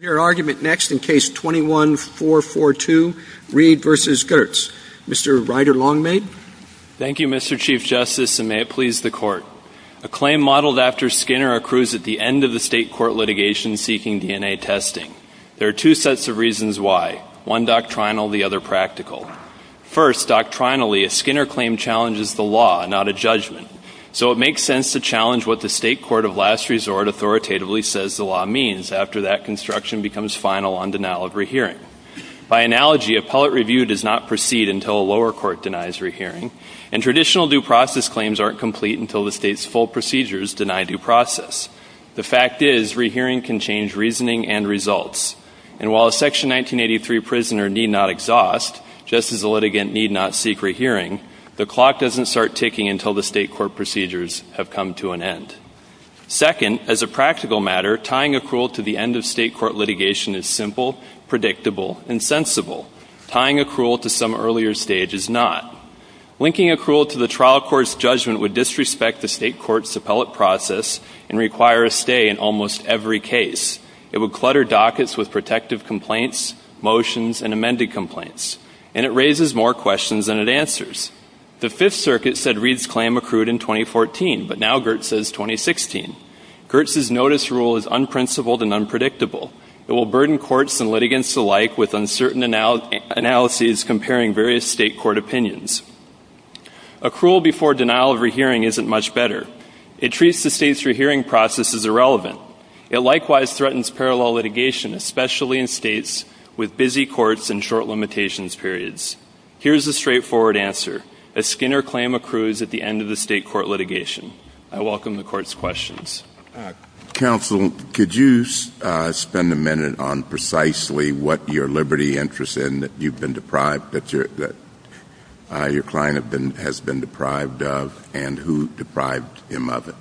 Thank you, Mr. Chief Justice, and may it please the Court. A claim modeled after Skinner accrues at the end of the state court litigation seeking DNA testing. There are two sets of reasons why, one doctrinal, the other practical. First, doctrinally, a Skinner claim challenges the law, not a judgment. So it makes sense to challenge what the state court of last resort authoritatively says the law means, after that, and that is to say that Skinner's claim is not a judgment, it is a challenge to what the state court of last resort authoritatively says the law means. That construction becomes final on denial of rehearing. By analogy, appellate review does not proceed until a lower court denies rehearing, and traditional due process claims aren't complete until the state's full procedures deny due process. The fact is, rehearing can change reasoning and results. And while a Section 1983 prisoner need not exhaust, just as a litigant need not seek rehearing, the clock doesn't start ticking until the state court procedures have come to an end. Second, as a practical matter, tying accrual to the end of state court litigation is simple, predictable, and sensible. Tying accrual to some earlier stage is not. Linking accrual to the trial court's judgment would disrespect the state court's appellate process and require a stay in almost every case. It would clutter dockets with protective complaints, motions, and amended complaints. And it raises more questions than it answers. The Fifth Circuit said Reed's claim accrued in 2014, but now Gertz says 2016. Gertz's notice rule is unprincipled and unpredictable. It will burden courts and litigants alike with uncertain analyses comparing various state court opinions. Accrual before denial of rehearing isn't much better. It treats the state's rehearing process as irrelevant. It likewise threatens parallel litigation, especially in states with busy courts and short limitations periods. Here's a straightforward answer. A Skinner claim accrues at the end of the state court litigation. I welcome the Court's questions. Counsel, could you spend a minute on precisely what your liberty interest in that you've been deprived, that your client has been deprived of, and who deprived him of it?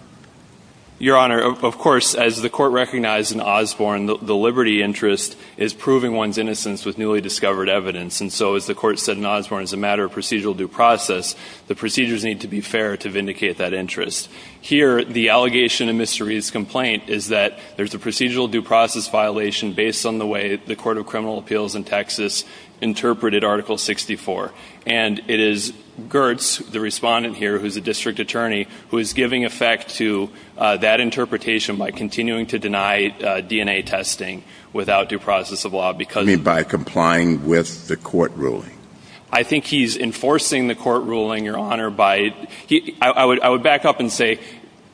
Your Honor, of course, as the Court recognized in Osborne, the liberty interest is proving one's innocence with newly discovered evidence. And so, as the Court said in Osborne, it's a matter of procedural due process. The procedures need to be fair to vindicate that interest. Here, the allegation in Mr. Reed's complaint is that there's a procedural due process violation based on the way the Court of Criminal Appeals in Texas interpreted Article 64. And it is Gertz, the respondent here who's a district attorney, who is giving effect to that interpretation by continuing to deny DNA testing without due process of law because You mean by complying with the court ruling? I think he's enforcing the court ruling, Your Honor, by – I would back up and say,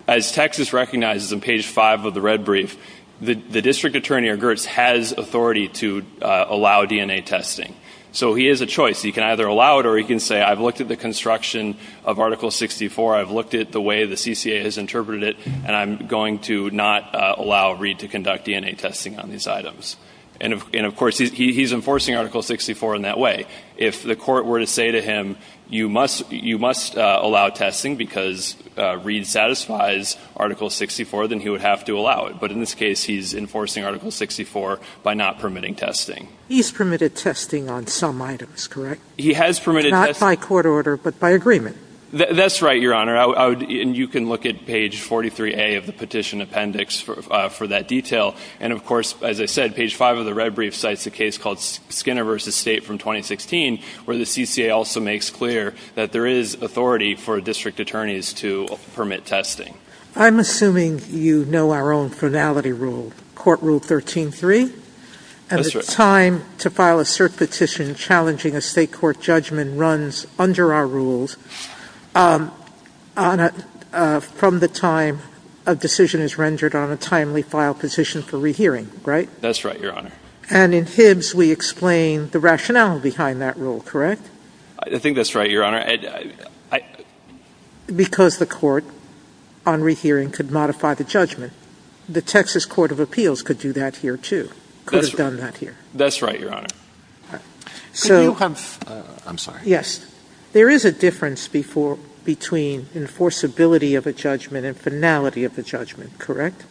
as Texas recognizes in page 5 of the red brief, the district attorney or Gertz has authority to allow DNA testing. So he has a choice. He can either allow it or he can say, I've looked at the construction of Article 64, I've looked at the way the CCA has interpreted it, and I'm going to not allow Reed to conduct DNA testing on these items. And of course, he's enforcing Article 64 in that way. If the court were to say to him, you must allow testing because Reed satisfies Article 64, then he would have to allow it. But in this case, he's enforcing Article 64 by not permitting testing. He's permitted testing on some items, correct? He has permitted testing. Not by court order, but by agreement. That's right, Your Honor. And you can look at page 43A of the petition appendix for that detail. And of course, as I said, page 5 of the red brief cites a case called Skinner v. State from 2016 where the CCA also makes clear that there is authority for district attorneys to permit testing. I'm assuming you know our own finality rule, Court Rule 13-3. That's right. And the time to file a cert petition challenging a state court judgment runs under our rules from the time a decision is rendered on a timely file petition for rehearing, right? That's right, Your Honor. And in Hibbs, we explain the rationale behind that rule, correct? I think that's right, Your Honor. Because the court on rehearing could modify the judgment. The Texas Court of Appeals could do that here, too. Could have done that here. That's right, Your Honor. Could you have – I'm sorry. Yes. There is a difference between enforceability of a judgment and finality of a judgment, correct?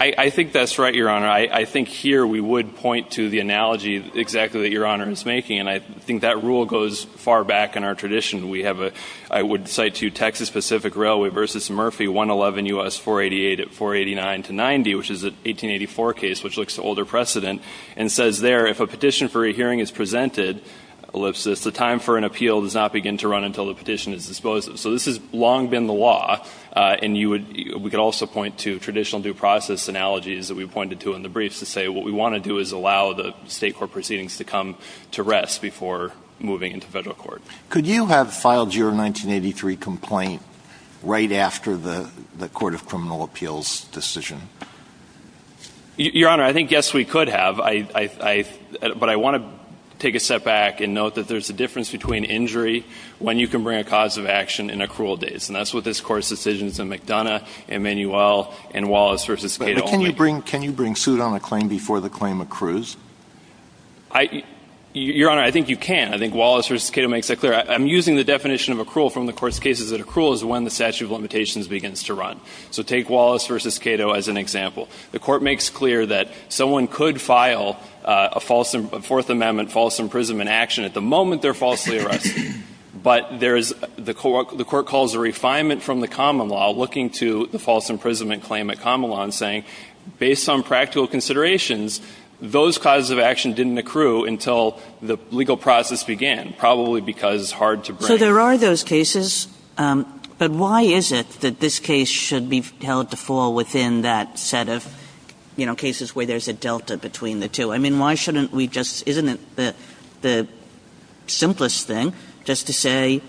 I think that's right, Your Honor. I think here we would point to the analogy exactly that Your Honor is making. And I think that rule goes far back in our tradition. We have a – I would cite to you Texas Pacific Railway v. Murphy 111 U.S. 488 at 489 to 90, which is an 1884 case, which looks to older precedent. And it says there, if a petition for a hearing is presented, ellipsis, the time for an appeal does not begin to run until the petition is disposed of. So this has long been the law, and you would – we could also point to traditional due process analogies that we've pointed to in the briefs to say what we want to do is allow the state court proceedings to come to rest before moving into federal court. Could you have filed your 1983 complaint right after the Court of Criminal Appeals' decision? Your Honor, I think, yes, we could have. But I want to take a step back and note that there's a difference between injury when you can bring a cause of action and accrual days. And that's what this Court's decisions in McDonough and Manuel and Wallace v. Cato only do. But can you bring – can you bring suit on a claim before the claim accrues? Your Honor, I think you can. I think Wallace v. Cato makes that clear. I'm using the definition of accrual from the Court's cases that accrual is when the statute of limitations begins to run. So take Wallace v. Cato as an example. The Court makes clear that someone could file a false – a Fourth Amendment false imprisonment action at the moment they're falsely arrested. But there is – the Court calls a refinement from the common law looking to the false imprisonment claim at common law and saying, based on practical considerations, those causes of action didn't accrue until the legal process began, probably because it's hard to bring. So there are those cases. But why is it that this case should be held to fall within that set of, you know, cases where there's a delta between the two? I mean, why shouldn't we just – isn't it the simplest thing just to say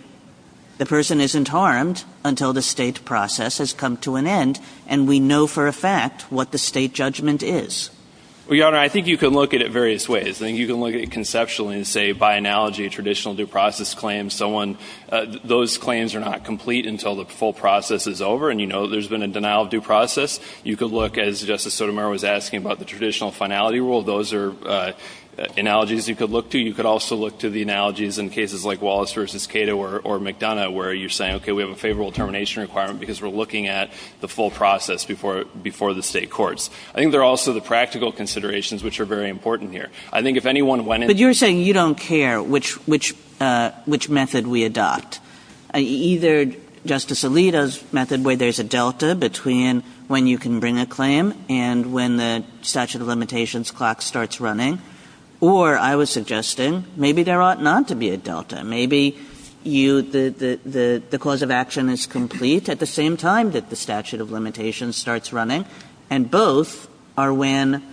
the person isn't harmed until the State process has come to an end and we know for a fact what the State judgment is? Well, Your Honor, I think you can look at it various ways. I think you can look at it conceptually and say, by analogy, a traditional due process claim, someone – those claims are not complete until the full process is over and you know there's been a denial of due process. You could look, as Justice Sotomayor was asking about the traditional finality rule, those are analogies you could look to. You could also look to the analogies in cases like Wallace v. Cato or McDonough where you're saying, okay, we have a favorable termination requirement because we're looking at the full process before the State courts. I think there are also the practical considerations which are very important here. I think if anyone went into – But you're saying you don't care which method we adopt. Either Justice Alito's method where there's a delta between when you can bring a claim and when the statute of limitations clock starts running, or I was suggesting maybe there ought not to be a delta. Maybe you – the cause of action is complete at the same time that the statute of limitations starts running, and both are when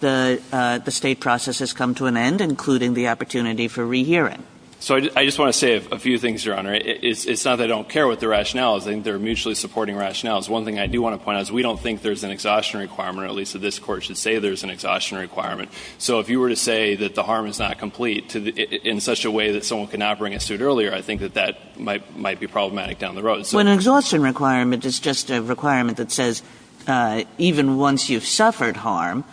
the State process has come to an end, including the opportunity for rehearing. So I just want to say a few things, Your Honor. It's not that I don't care what the rationale is. I think they're mutually supporting rationales. One thing I do want to point out is we don't think there's an exhaustion requirement, or at least that this Court should say there's an exhaustion requirement. So if you were to say that the harm is not complete in such a way that someone could not bring a suit earlier, I think that that might be problematic down the road. When an exhaustion requirement is just a requirement that says even once you've suffered harm,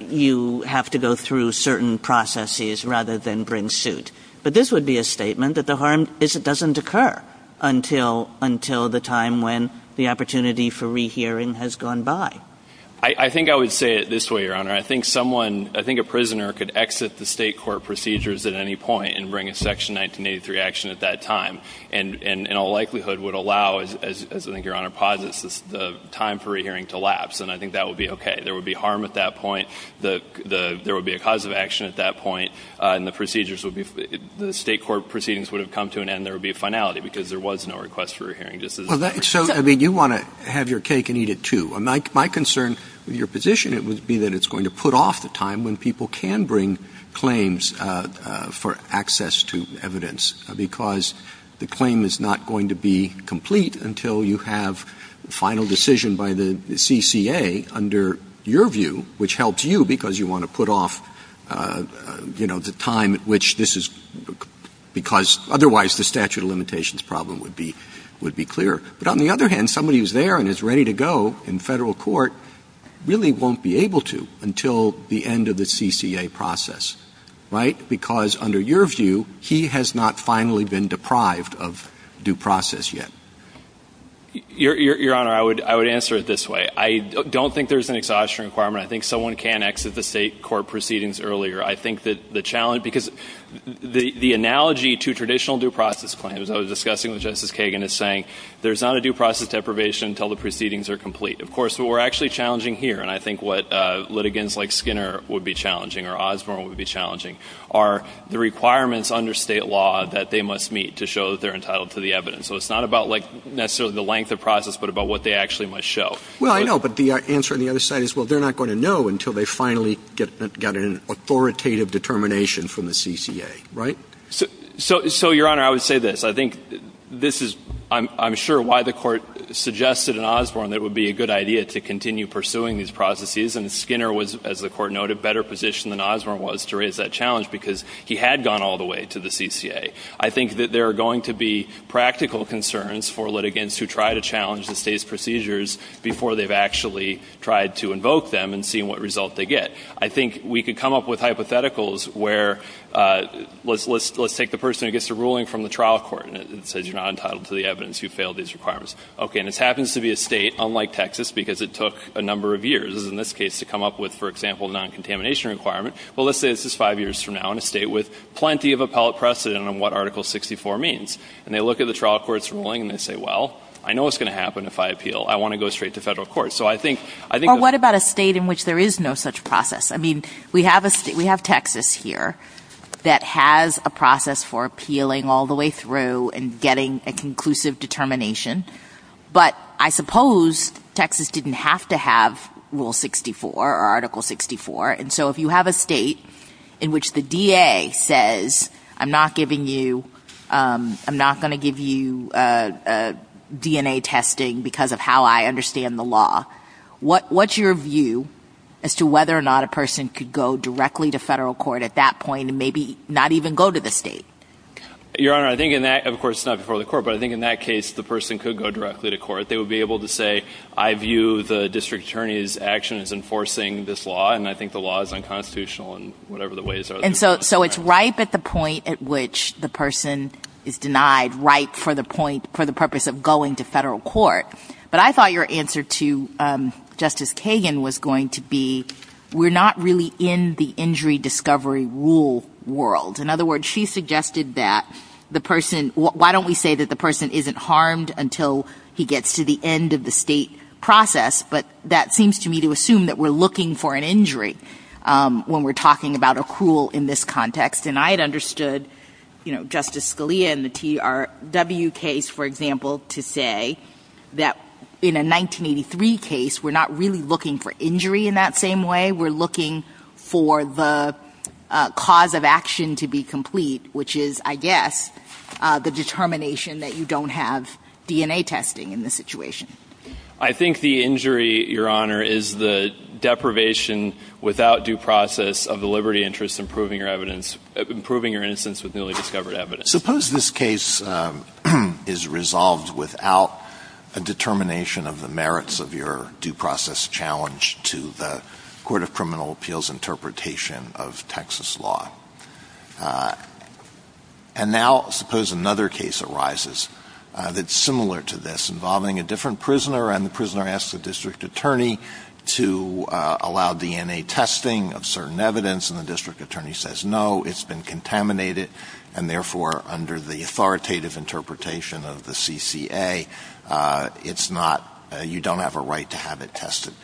you have to go through certain processes rather than bring suit. But this would be a statement that the harm doesn't occur until the time when the opportunity for rehearing has gone by. I think I would say it this way, Your Honor. I think someone – I think a prisoner could exit the State court procedures at any point and bring a Section 1983 action at that time. And in all likelihood would allow, as I think Your Honor posits, the time for a hearing to lapse. And I think that would be okay. There would be harm at that point. There would be a cause of action at that point. And the procedures would be – the State court proceedings would have come to an end. There would be a finality because there was no request for a hearing. So, I mean, you want to have your cake and eat it, too. My concern with your position would be that it's going to put off the time when people can bring claims for access to evidence. Because the claim is not going to be complete until you have a final decision by the CCA under your view, which helps you because you want to put off, you know, the time at which this is – because otherwise the statute of limitations problem would be clear. But on the other hand, somebody who's there and is ready to go in Federal court really won't be able to until the end of the CCA process. Right? Because under your view, he has not finally been deprived of due process yet. Your Honor, I would answer it this way. I don't think there's an exhaustion requirement. I think someone can exit the State court proceedings earlier. I think that the challenge – because the analogy to traditional due process claims, I was discussing with Justice Kagan, is saying there's not a due process deprivation until the proceedings are complete. Of course, what we're actually challenging here, and I think what litigants like Skinner would be challenging or Osborne would be challenging, are the requirements under State law that they must meet to show that they're entitled to the evidence. So it's not about, like, necessarily the length of process, but about what they actually must show. Well, I know. But the answer on the other side is, well, they're not going to know until they finally get an authoritative determination from the CCA. Right? So, Your Honor, I would say this. I think this is, I'm sure, why the Court suggested in Osborne that it would be a good idea to continue pursuing these processes. And Skinner was, as the Court noted, better positioned than Osborne was to raise that challenge because he had gone all the way to the CCA. I think that there are going to be practical concerns for litigants who try to challenge the State's procedures before they've actually tried to invoke them and seen what result they get. I think we could come up with hypotheticals where, let's take the person who gets a ruling from the trial court and it says you're not entitled to the evidence. You failed these requirements. Okay. And this happens to be a State, unlike Texas, because it took a number of years, in this case, to come up with, for example, a non-contamination requirement. Well, let's say this is five years from now in a State with plenty of appellate precedent on what Article 64 means. And they look at the trial court's ruling and they say, well, I know what's going to happen if I appeal. I want to go straight to federal court. So I think the ---- Or what about a State in which there is no such process? I mean, we have Texas here that has a process for appealing all the way through and getting a conclusive determination. But I suppose Texas didn't have to have Rule 64 or Article 64. And so if you have a State in which the DA says I'm not giving you ---- I'm not going to give you DNA testing because of how I understand the law, what's your view as to whether or not a person could go directly to federal court at that point and maybe not even go to the State? Your Honor, I think in that ---- of course, it's not before the court. But I think in that case, the person could go directly to court. They would be able to say, I view the district attorney's action as enforcing this law, and I think the law is unconstitutional in whatever the ways are. And so it's ripe at the point at which the person is denied, ripe for the point, for the purpose of going to federal court. But I thought your answer to Justice Kagan was going to be we're not really in the injury discovery rule world. In other words, she suggested that the person ---- why don't we say that the person isn't harmed until he gets to the end of the State process? But that seems to me to assume that we're looking for an injury when we're talking about a cruel in this context. And I had understood, you know, Justice Scalia in the TRW case, for example, to say that in a 1983 case, we're not really looking for injury in that same way. We're looking for the cause of action to be complete, which is, I guess, the determination that you don't have DNA testing in this situation. I think the injury, Your Honor, is the deprivation without due process of the liberty interest in proving your evidence, in proving your innocence with newly discovered evidence. Suppose this case is resolved without a determination of the merits of your due process challenge to the court of criminal appeals interpretation of Texas law. And now suppose another case arises that's similar to this, involving a different prisoner, and the prisoner asks the district attorney to allow DNA testing of certain evidence, and the district attorney says no, it's been contaminated, and therefore, under the authoritative interpretation of the CCA, it's not ---- you don't have a right to have it tested.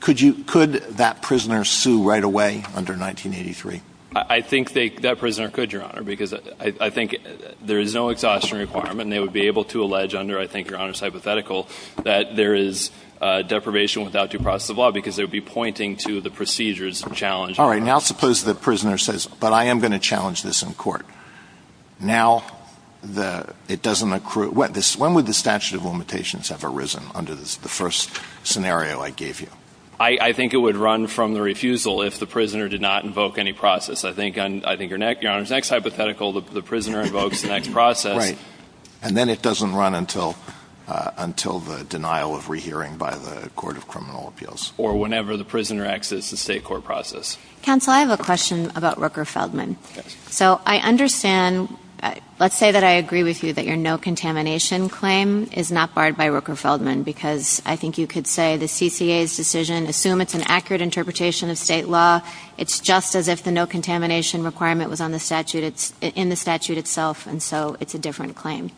Could that prisoner sue right away under 1983? I think that prisoner could, Your Honor, because I think there is no exhaustion requirement, and they would be able to allege under, I think, Your Honor's hypothetical, that there is deprivation without due process of law, because they would be pointing to the procedures of challenge. All right. Now suppose the prisoner says, but I am going to challenge this in court. Now it doesn't accrue. When would the statute of limitations have arisen under the first scenario I gave you? I think it would run from the refusal if the prisoner did not invoke any process. I think, Your Honor's next hypothetical, the prisoner invokes the next process. Right. And then it doesn't run until the denial of rehearing by the court of criminal appeals. Or whenever the prisoner exits the state court process. Counsel, I have a question about Rooker Feldman. Yes. So I understand, let's say that I agree with you that your no-contamination claim is not barred by Rooker Feldman, because I think you could say the CCA's decision, assume it's an accurate interpretation of state law, it's just as if the no-contamination requirement was in the statute itself, and so it's a different claim.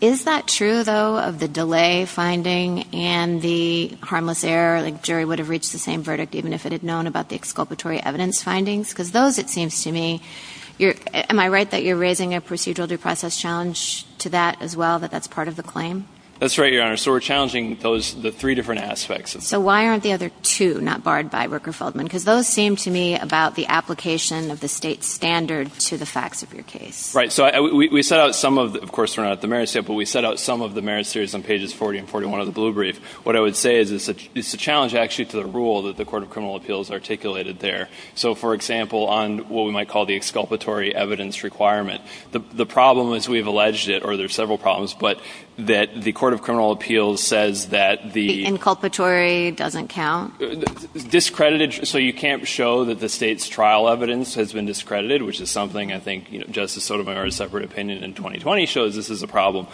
Is that true, though, of the delay finding and the harmless error, like jury would have reached the same verdict even if it had known about the exculpatory evidence findings? Because those, it seems to me, am I right that you're raising a procedural due process challenge to that as well, that that's part of the claim? That's right, Your Honor. So we're challenging the three different aspects. So why aren't the other two not barred by Rooker Feldman? Because those seem to me about the application of the state standard to the facts of your case. Right. So we set out some of the, of course, we're not at the merit state, but we set out some of the merit states on pages 40 and 41 of the blue brief. What I would say is it's a challenge actually to the rule that the court of criminal appeals articulated there. So, for example, on what we might call the exculpatory evidence requirement, the problem is we have alleged it, or there are several problems, but that the court of criminal appeals says that the- The inculpatory doesn't count? Discredited. So you can't show that the state's trial evidence has been discredited, which is something I think Justice Sotomayor's separate opinion in 2020 shows this is a problem.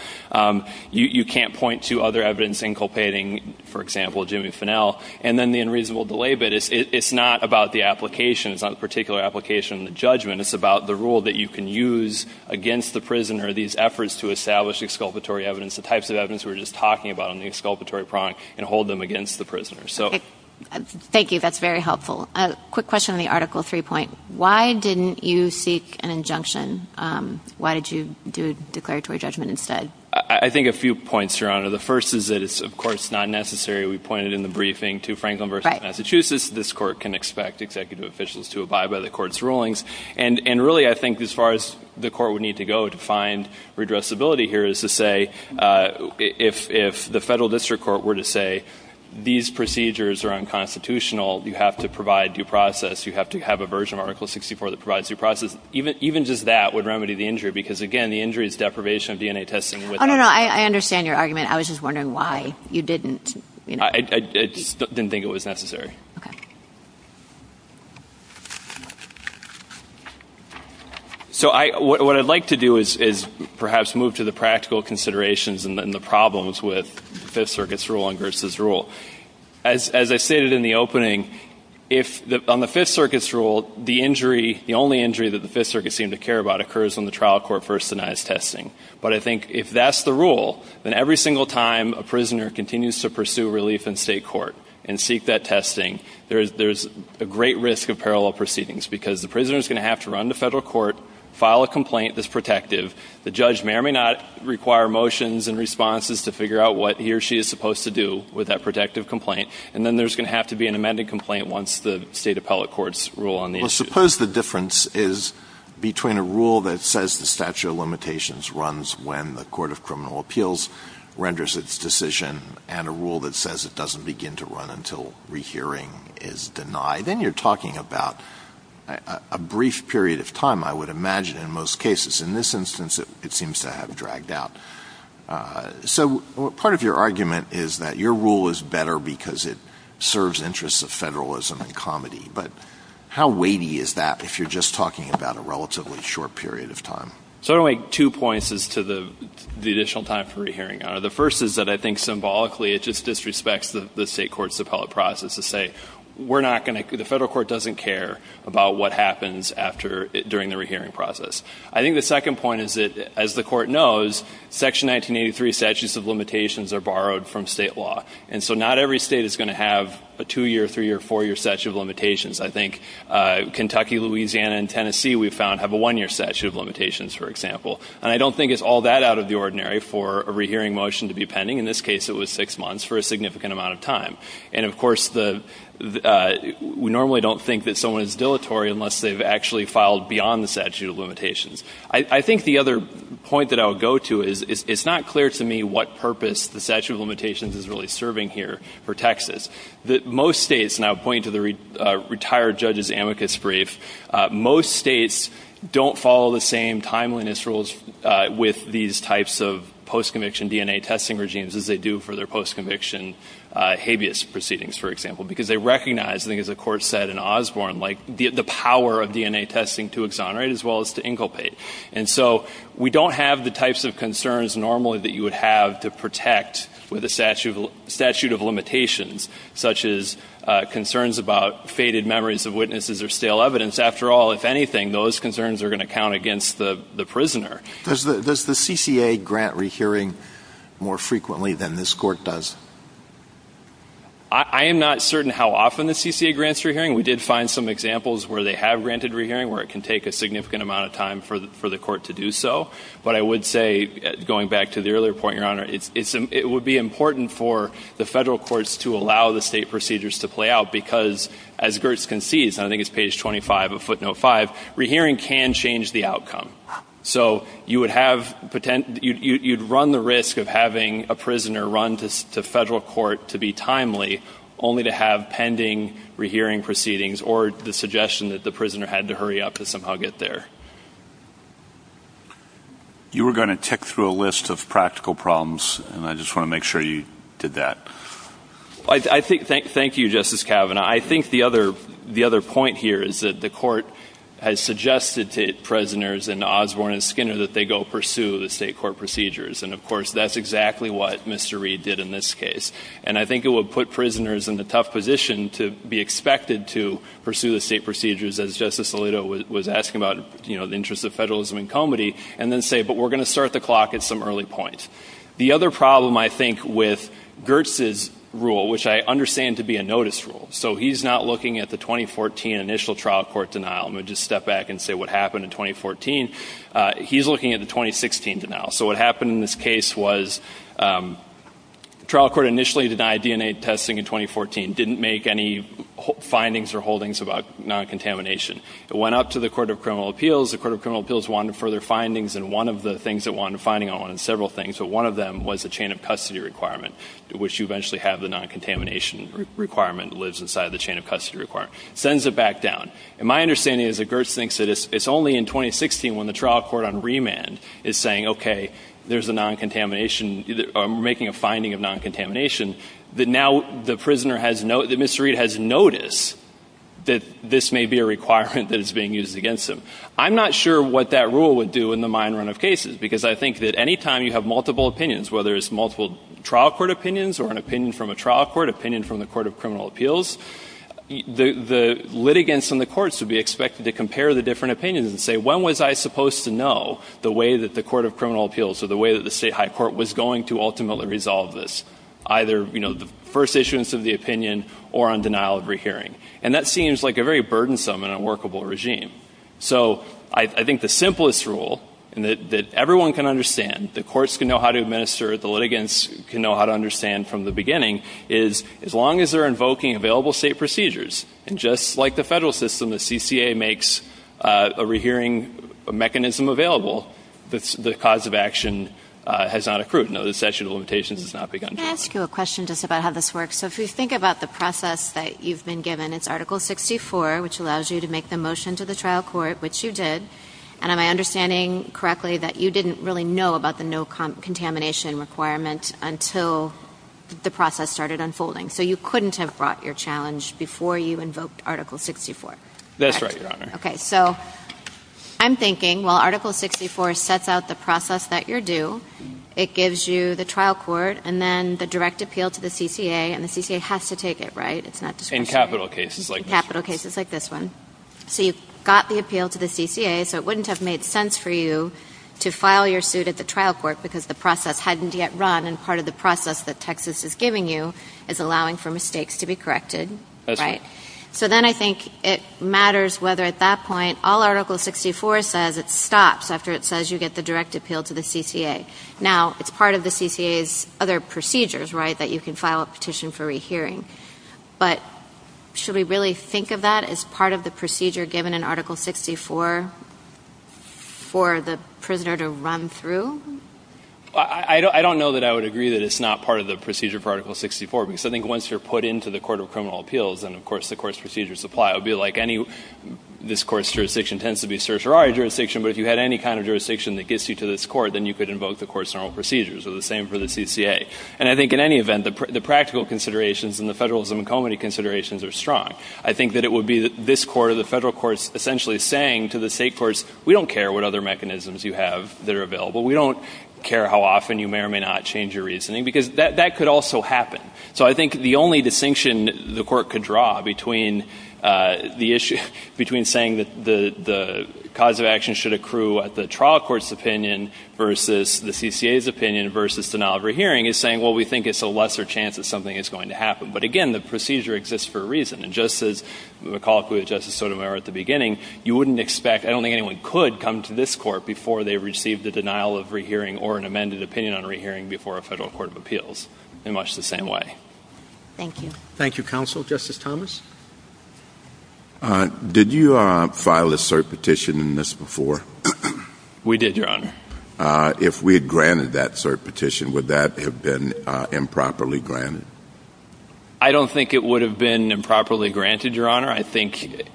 You can't point to other evidence inculpating, for example, Jimmy Finnell. And then the unreasonable delay bit. It's not about the application. It's not a particular application in the judgment. It's about the rule that you can use against the prisoner, these efforts to establish exculpatory evidence, the types of evidence we were just talking about on the exculpatory prong, and hold them against the prisoner. Thank you. That's very helpful. A quick question on the Article 3 point. Why didn't you seek an injunction? Why did you do a declaratory judgment instead? I think a few points, Your Honor. The first is that it's, of course, not necessary. We pointed in the briefing to Franklin versus Massachusetts. This court can expect executive officials to abide by the court's rulings. And really I think as far as the court would need to go to find redressability here is to say, if the federal district court were to say these procedures are unconstitutional, you have to provide due process, you have to have a version of Article 64 that provides due process, even just that would remedy the injury because, again, the injury is deprivation of DNA testing. Oh, no, no. I understand your argument. I was just wondering why you didn't, you know. I just didn't think it was necessary. Okay. So what I'd like to do is perhaps move to the practical considerations and the problems with the Fifth Circuit's rule and Gerst's rule. As I stated in the opening, on the Fifth Circuit's rule, the only injury that the Fifth Circuit seemed to care about occurs when the trial court first denies testing. But I think if that's the rule, then every single time a prisoner continues to pursue relief in state court and seek that testing, there's a great risk of parallel proceedings because the prisoner is going to have to run to federal court, file a complaint that's protective. The judge may or may not require motions and responses to figure out what he or she is supposed to do with that protective complaint. And then there's going to have to be an amended complaint once the state appellate courts rule on the issue. Suppose the difference is between a rule that says the statute of limitations runs when the court of criminal appeals renders its decision and a rule that says it doesn't begin to run until rehearing is denied. Then you're talking about a brief period of time, I would imagine, in most cases. In this instance, it seems to have dragged out. So part of your argument is that your rule is better because it serves interests of federalism and comedy. But how weighty is that if you're just talking about a relatively short period of time? So I'm going to make two points as to the additional time for rehearing, Your Honor. The first is that I think symbolically it just disrespects the state court's appellate process to say, we're not going to, the federal court doesn't care about what happens after, during the rehearing process. I think the second point is that, as the court knows, Section 1983 statutes of limitations are borrowed from state law. And so not every state is going to have a two-year, three-year, four-year statute of limitations. I think Kentucky, Louisiana, and Tennessee, we've found, have a one-year statute of limitations, for example. And I don't think it's all that out of the ordinary for a rehearing motion to be pending. In this case, it was six months for a significant amount of time. And, of course, we normally don't think that someone is dilatory unless they've actually filed beyond the statute of limitations. I think the other point that I would go to is it's not clear to me what purpose the statute of limitations is really serving here for Texas. Most states, and I'll point to the retired judge's amicus brief, most states don't follow the same timeliness rules with these types of post-conviction DNA testing regimes as they do for their post-conviction habeas proceedings, for example. Because they recognize, I think as the Court said in Osborne, the power of DNA testing to exonerate as well as to inculpate. And so we don't have the types of concerns normally that you would have to protect with a statute of limitations, such as concerns about faded memories of witnesses or stale evidence. After all, if anything, those concerns are going to count against the prisoner. Does the CCA grant rehearing more frequently than this Court does? I am not certain how often the CCA grants rehearing. We did find some examples where they have granted rehearing where it can take a significant amount of time for the Court to do so. But I would say, going back to the earlier point, Your Honor, it would be important for the federal courts to allow the state procedures to play out because as Gertz concedes, and I think it's page 25 of footnote 5, rehearing can change the outcome. So you would run the risk of having a prisoner run to federal court to be timely, only to have pending rehearing proceedings or the suggestion that the prisoner had to hurry up to somehow get there. You were going to tick through a list of practical problems, and I just want to make sure you did that. Thank you, Justice Kavanaugh. I think the other point here is that the Court has suggested to prisoners in Osborne and Skinner that they go pursue the state court procedures. And of course, that's exactly what Mr. Reed did in this case. And I think it would put prisoners in the tough position to be expected to pursue the state procedures, as Justice Alito was asking about, you know, the interests of federalism and comity, and then say, but we're going to start the clock at some early point. The other problem, I think, with Gertz's rule, which I understand to be a notice rule, so he's not looking at the 2014 initial trial court denial. Let me just step back and say what happened in 2014. He's looking at the 2016 denial. So what happened in this case was the trial court initially denied DNA testing in 2014, didn't make any findings or holdings about non-contamination. It went up to the Court of Criminal Appeals. The Court of Criminal Appeals wanted further findings, and one of the things it wanted finding on, and several things, but one of them was a chain of custody requirement, which you eventually have the non-contamination requirement that lives inside the chain of custody requirement. It sends it back down. And my understanding is that Gertz thinks that it's only in 2016 when the trial court on remand is saying, okay, there's a non-contamination, or making a finding of non-contamination, that now the prisoner has no, that Mr. Reed has noticed that this may be a requirement that is being used against him. I'm not sure what that rule would do in the mine run of cases, because I think that any time you have multiple opinions, whether it's multiple trial court opinions or an opinion from a trial court, opinion from the Court of Criminal Appeals, the litigants in the courts would be expected to compare the different opinions and say, when was I supposed to know the way that the Court of Criminal Appeals or the way that the state high court was going to ultimately resolve this, either the first issuance of the opinion or on denial of rehearing. And that seems like a very burdensome and unworkable regime. So I think the simplest rule that everyone can understand, the courts can know how to administer, the litigants can know how to understand from the beginning, is as long as they're invoking available state procedures, and just like the federal system, the CCA makes a rehearing mechanism available, the cause of action has not accrued. No, the statute of limitations has not begun. Can I ask you a question just about how this works? So if you think about the process that you've been given, it's Article 64, which allows you to make the motion to the trial court, which you did. And am I understanding correctly that you didn't really know about the no-contamination requirement until the process started unfolding? So you couldn't have brought your challenge before you invoked Article 64? That's right, Your Honor. Okay. So I'm thinking, while Article 64 sets out the process that you're due, it gives you the trial court and then the direct appeal to the CCA, and the CCA has to take it, right? It's not discretionary. In capital cases like this. In capital cases like this one. So you got the appeal to the CCA, so it wouldn't have made sense for you to file your suit at the trial court because the process hadn't yet run, and part of the process that Texas is giving you is allowing for mistakes to be corrected, right? That's right. So then I think it matters whether, at that point, all Article 64 says it stops after it says you get the direct appeal to the CCA. Now, it's part of the CCA's other procedures, right, that you can file a petition for rehearing. But should we really think of that as part of the procedure given in Article 64 for the prisoner to run through? I don't know that I would agree that it's not part of the procedure for Article 64, because I think once you're put into the Court of Criminal Appeals, and of course the court's procedures apply, it would be like this court's jurisdiction tends to be certiorari jurisdiction, but if you had any kind of jurisdiction that gets you to this court, then you could invoke the court's normal procedures, or the same for the CCA. And I think in any event, the practical considerations and the federalism and comity considerations are strong. I think that it would be this court or the federal courts essentially saying to the state courts, we don't care what other mechanisms you have that are available. We don't care how often you may or may not change your reasoning, because that could also happen. So I think the only distinction the court could draw between saying that the cause of action should accrue at the trial court's opinion versus the CCA's opinion versus denial of re-hearing is saying, well, we think it's a lesser chance that something is going to happen. But again, the procedure exists for a reason. And just as McCulloch, who was Justice Sotomayor at the beginning, you wouldn't expect, I don't think anyone could come to this court before they received a denial of re-hearing or an amended opinion on re-hearing before a federal court of appeals in much the same way. Thank you. Justice Thomas? Did you file a cert petition in this before? We did, Your Honor. If we had granted that cert petition, would that have been improperly granted? I don't think it would have been improperly granted, Your Honor. I think,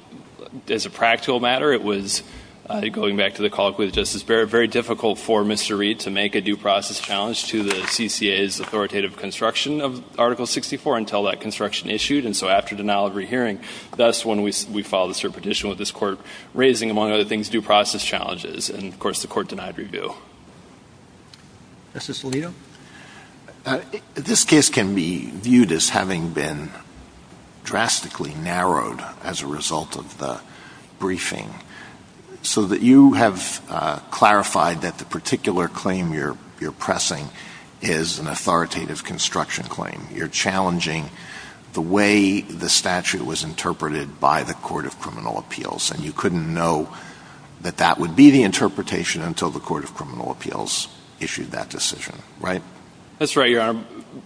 as a practical matter, it was, going back to the call with Justice Barrett, very difficult for Mr. Reid to make a due process challenge to the CCA's authoritative construction of Article 64 until that construction issued. And so after denial of re-hearing, thus when we filed the cert petition with this court raising, among other things, due process challenges. And, of course, the court denied review. Justice Alito? This case can be viewed as having been drastically narrowed as a result of the briefing so that you have clarified that the particular claim you're pressing is an authoritative construction claim. You're challenging the way the statute was interpreted by the court of criminal appeals. And you couldn't know that that would be the interpretation until the court of criminal appeals issued that decision. Right? That's right, Your Honor.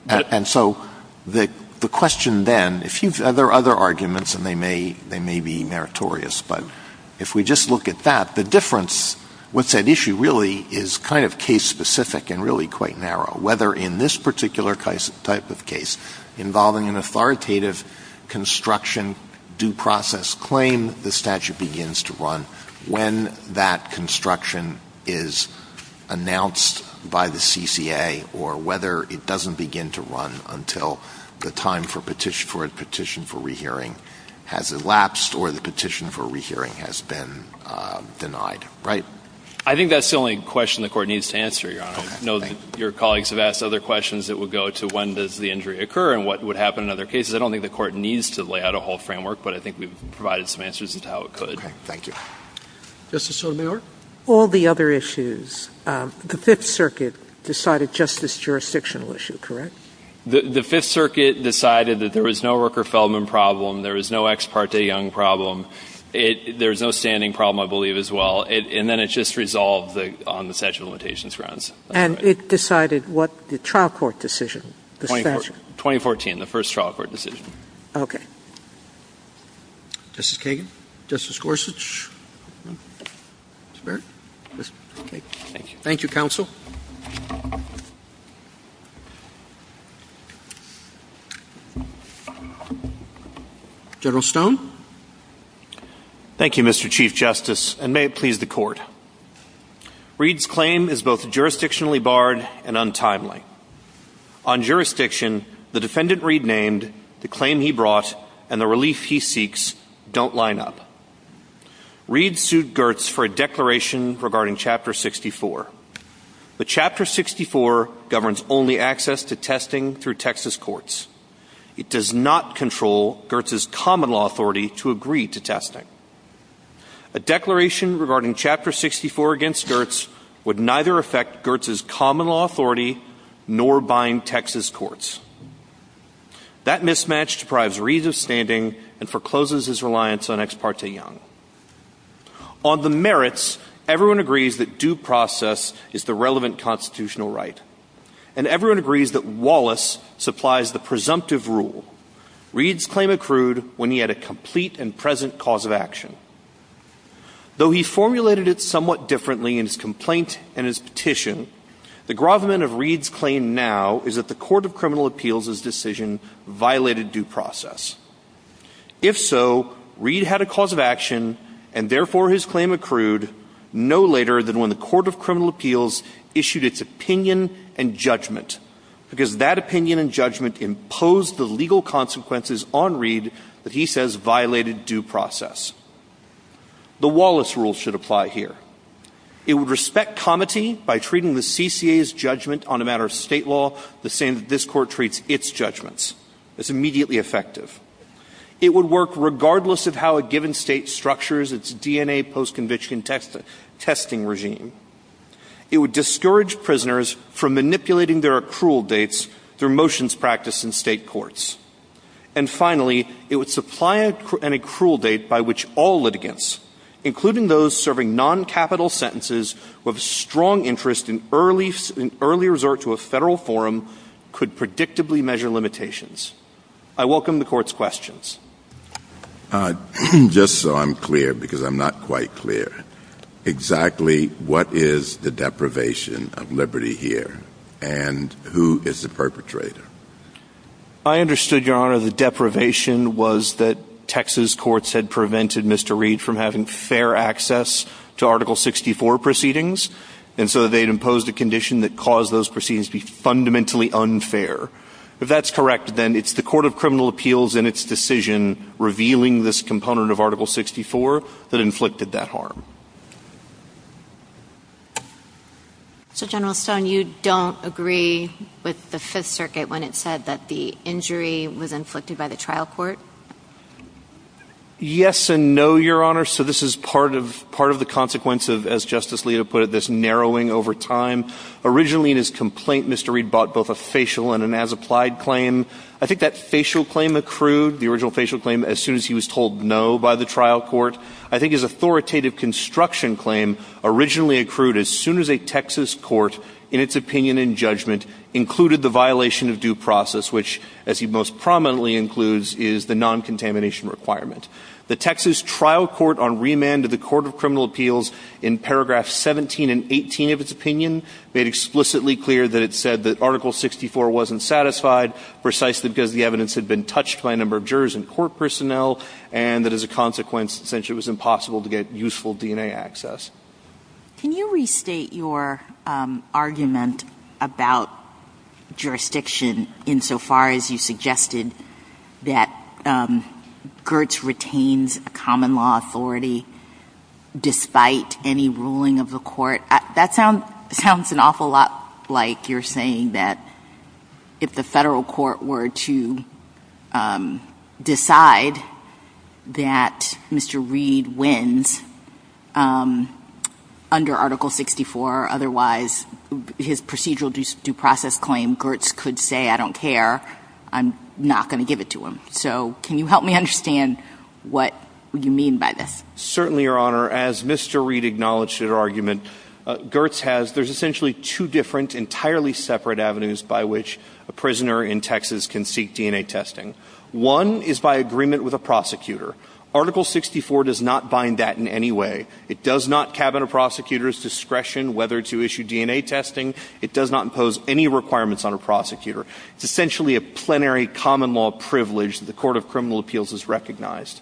And so the question then, if you've other arguments, and they may be meritorious, but if we just look at that, the difference, what's at issue really is kind of case-specific and really quite narrow. Whether in this particular type of case involving an authoritative construction claim, due process claim, the statute begins to run when that construction is announced by the CCA or whether it doesn't begin to run until the time for a petition for re-hearing has elapsed or the petition for re-hearing has been denied. Right? I think that's the only question the Court needs to answer, Your Honor. I know that your colleagues have asked other questions that would go to when does the injury occur and what would happen in other cases. I don't think the Court needs to lay out a whole framework, but I think we've provided some answers as to how it could. Okay. Thank you. Justice Sotomayor? All the other issues. The Fifth Circuit decided just this jurisdictional issue, correct? The Fifth Circuit decided that there was no Rooker-Feldman problem, there was no Ex parte Young problem. There was no standing problem, I believe, as well. And then it just resolved on the statute of limitations grounds. And it decided what the trial court decision, the statute? 2014, the first trial court decision. Okay. Justice Kagan? Justice Gorsuch? Mr. Barrett? Thank you. Thank you, Counsel. General Stone? Thank you, Mr. Chief Justice, and may it please the Court. Reed's claim is both jurisdictionally barred and untimely. On jurisdiction, the defendant Reed named, the claim he brought, and the relief he seeks don't line up. Reed sued Gertz for a declaration regarding Chapter 64. But Chapter 64 governs only access to testing through Texas courts. It does not control Gertz's common law authority to agree to testing. A declaration regarding Chapter 64 against Gertz would neither affect Gertz's common law authority nor bind Texas courts. That mismatch deprives Reed of standing and forecloses his reliance on Ex parte Young. On the merits, everyone agrees that due process is the relevant constitutional right. And everyone agrees that Wallace supplies the presumptive rule. Reed's claim accrued when he had a complete and present cause of action. Though he formulated it somewhat differently in his complaint and his petition, the grovement of Reed's claim now is that the Court of Criminal Appeals' decision violated due process. If so, Reed had a cause of action, and therefore his claim accrued no later than when the Court of Criminal Appeals issued its opinion and judgment, because that opinion and judgment imposed the legal consequences on Reed that he says violated due process. The Wallace rule should apply here. It would respect comity by treating the CCA's judgment on a matter of state law the same that this Court treats its judgments. It's immediately effective. It would work regardless of how a given state structures its DNA post-conviction testing regime. It would discourage prisoners from manipulating their accrual dates through motions practiced in state courts. And finally, it would supply an accrual date by which all litigants, including those serving noncapital sentences with a strong interest in early resort to a Federal forum, could predictably measure limitations. I welcome the Court's questions. Just so I'm clear, because I'm not quite clear, exactly what is the deprivation of liberty here, and who is the perpetrator? I understood, Your Honor, the deprivation was that Texas courts had prevented Mr. Reed from having fair access to Article 64 proceedings, and so they'd imposed a condition that caused those proceedings to be fundamentally unfair. If that's correct, then it's the Court of Criminal Appeals and its decision revealing this component of Article 64 that inflicted that harm. So, General Stone, you don't agree with the Fifth Circuit when it said that the injury was inflicted by the trial court? Yes and no, Your Honor. So this is part of the consequence of, as Justice Alito put it, this narrowing over time. Originally, in his complaint, Mr. Reed bought both a facial and an as-applied claim. I think that facial claim accrued, the original facial claim, as soon as he was told no by the trial court. I think his authoritative construction claim originally accrued as soon as a Texas court, in its opinion and judgment, included the violation of due process, which, as he most prominently includes, is the non-contamination requirement. The Texas trial court on remand of the Court of Criminal Appeals, in paragraphs 17 and 18 of its opinion, made explicitly clear that it said that Article 64 wasn't satisfied, precisely because the evidence had been touched by a number of jurors and court personnel, and that as a consequence, essentially, it was impossible to get useful DNA access. Can you restate your argument about jurisdiction insofar as you suggested that Gertz retains a common law authority despite any ruling of the court? That sounds an awful lot like you're saying that if the Federal court were to decide that Mr. Reed wins under Article 64, otherwise his procedural due process claim, Gertz could say, I don't care, I'm not going to give it to him. So can you help me understand what you mean by this? Certainly, Your Honor. As Mr. Reed acknowledged in her argument, Gertz has – there's essentially two different, entirely separate avenues by which a prisoner in Texas can seek DNA testing. One is by agreement with a prosecutor. Article 64 does not bind that in any way. It does not cabin a prosecutor's discretion whether to issue DNA testing. It does not impose any requirements on a prosecutor. It's essentially a plenary common law privilege that the Court of Criminal Appeals has recognized.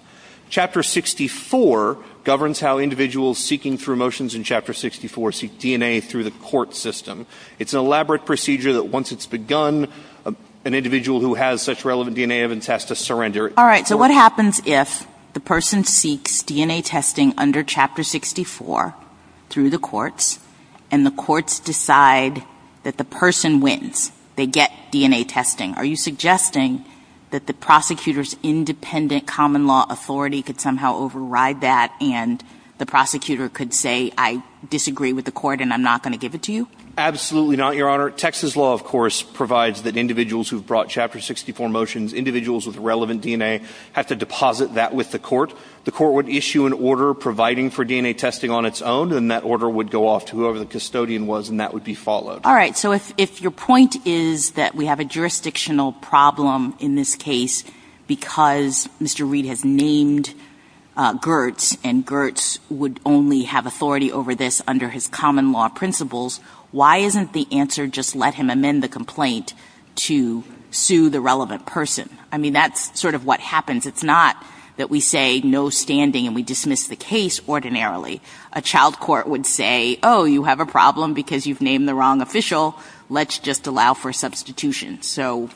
Chapter 64 governs how individuals seeking through motions in Chapter 64 seek DNA through the court system. It's an elaborate procedure that once it's begun, an individual who has such relevant DNA evidence has to surrender. All right. So what happens if the person seeks DNA testing under Chapter 64 through the courts and the courts decide that the person wins? They get DNA testing. Are you suggesting that the prosecutor's independent common law authority could somehow override that and the prosecutor could say, I disagree with the court and I'm not going to give it to you? Absolutely not, Your Honor. Texas law, of course, provides that individuals who've brought Chapter 64 motions, individuals with relevant DNA, have to deposit that with the court. The court would issue an order providing for DNA testing on its own, and that order would go off to whoever the custodian was, and that would be followed. All right. So if your point is that we have a jurisdictional problem in this case because Mr. Reed has named Gertz and Gertz would only have authority over this under his common law principles, why isn't the answer just let him amend the complaint to sue the relevant person? I mean, that's sort of what happens. It's not that we say no standing and we dismiss the case ordinarily. A child court would say, oh, you have a problem because you've named the wrong official. Let's just allow for substitution. So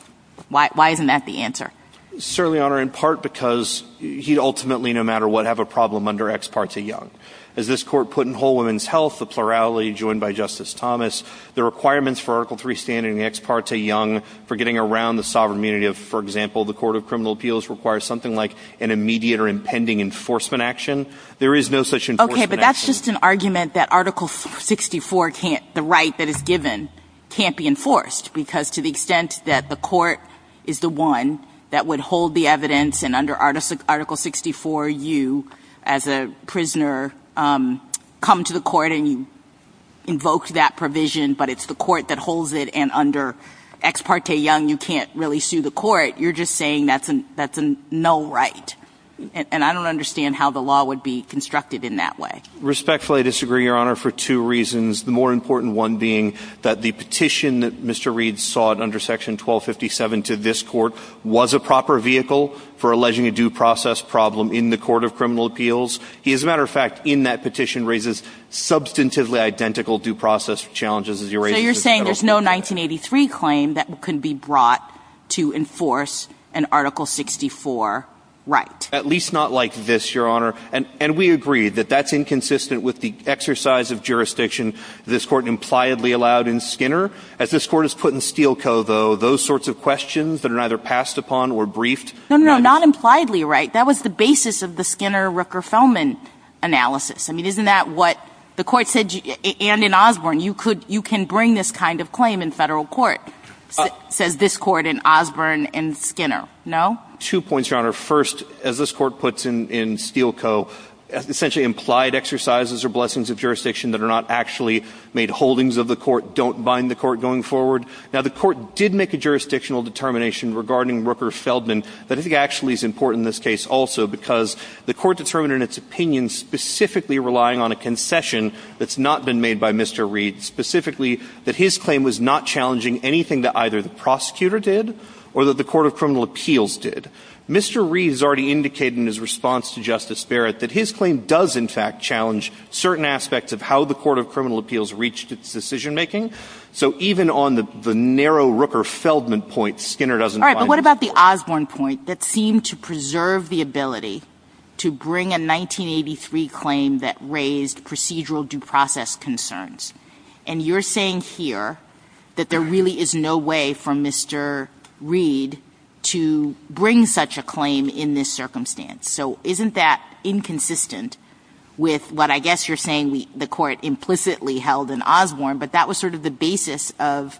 why isn't that the answer? Certainly, Your Honor, in part because he'd ultimately, no matter what, have a problem under Ex parte Young. As this Court put in Whole Woman's Health, the plurality joined by Justice Thomas, the requirements for Article III standing in the Ex parte Young for getting around the sovereign immunity of, for example, the Court of Criminal Appeals requires something like an immediate or impending enforcement action. There is no such enforcement action. Okay, but that's just an argument that Article 64 can't, the right that is given can't be enforced because to the extent that the court is the one that would hold the evidence and under Article 64 you, as a prisoner, come to the court and you invoke that provision, but it's the court that holds it and under Ex parte Young you can't really sue the court, you're just saying that's a null right. And I don't understand how the law would be constructed in that way. Respectfully, I disagree, Your Honor, for two reasons. The more important one being that the petition that Mr. Reed sought under Section 1257 to this Court was a proper vehicle for alleging a due process problem in the Court of Criminal Appeals. He, as a matter of fact, in that petition raises substantively identical due process challenges as he raises in the federal court. So you're saying there's no 1983 claim that could be brought to enforce an Article 64 right? At least not like this, Your Honor. And we agree that that's inconsistent with the exercise of jurisdiction this Court impliedly allowed in Skinner. As this Court has put in Steelco, though, those sorts of questions that are either passed upon or briefed. No, no, no, not impliedly right. That was the basis of the Skinner-Rooker-Fellman analysis. I mean, isn't that what the Court said, and in Osborne, you can bring this kind of claim in federal court, says this Court in Osborne and Skinner, no? Two points, Your Honor. First, as this Court puts in Steelco, essentially implied exercises or blessings of jurisdiction that are not actually made holdings of the Court don't bind the Court going forward. Now, the Court did make a jurisdictional determination regarding Rooker-Feldman that I think actually is important in this case also because the Court determined in its opinion specifically relying on a concession that's not been made by Mr. Reed, specifically that his claim was not challenging anything that either the prosecutor did or that the court of criminal appeals did. Mr. Reed has already indicated in his response to Justice Barrett that his claim does in fact challenge certain aspects of how the court of criminal appeals reached its decision-making. So even on the narrow Rooker-Feldman point, Skinner doesn't bind the Court. All right, but what about the Osborne point that seemed to preserve the ability to bring a 1983 claim that raised procedural due process concerns? And you're saying here that there really is no way for Mr. Reed to bring such a claim in this circumstance. So isn't that inconsistent with what I guess you're saying the Court implicitly held in Osborne, but that was sort of the basis of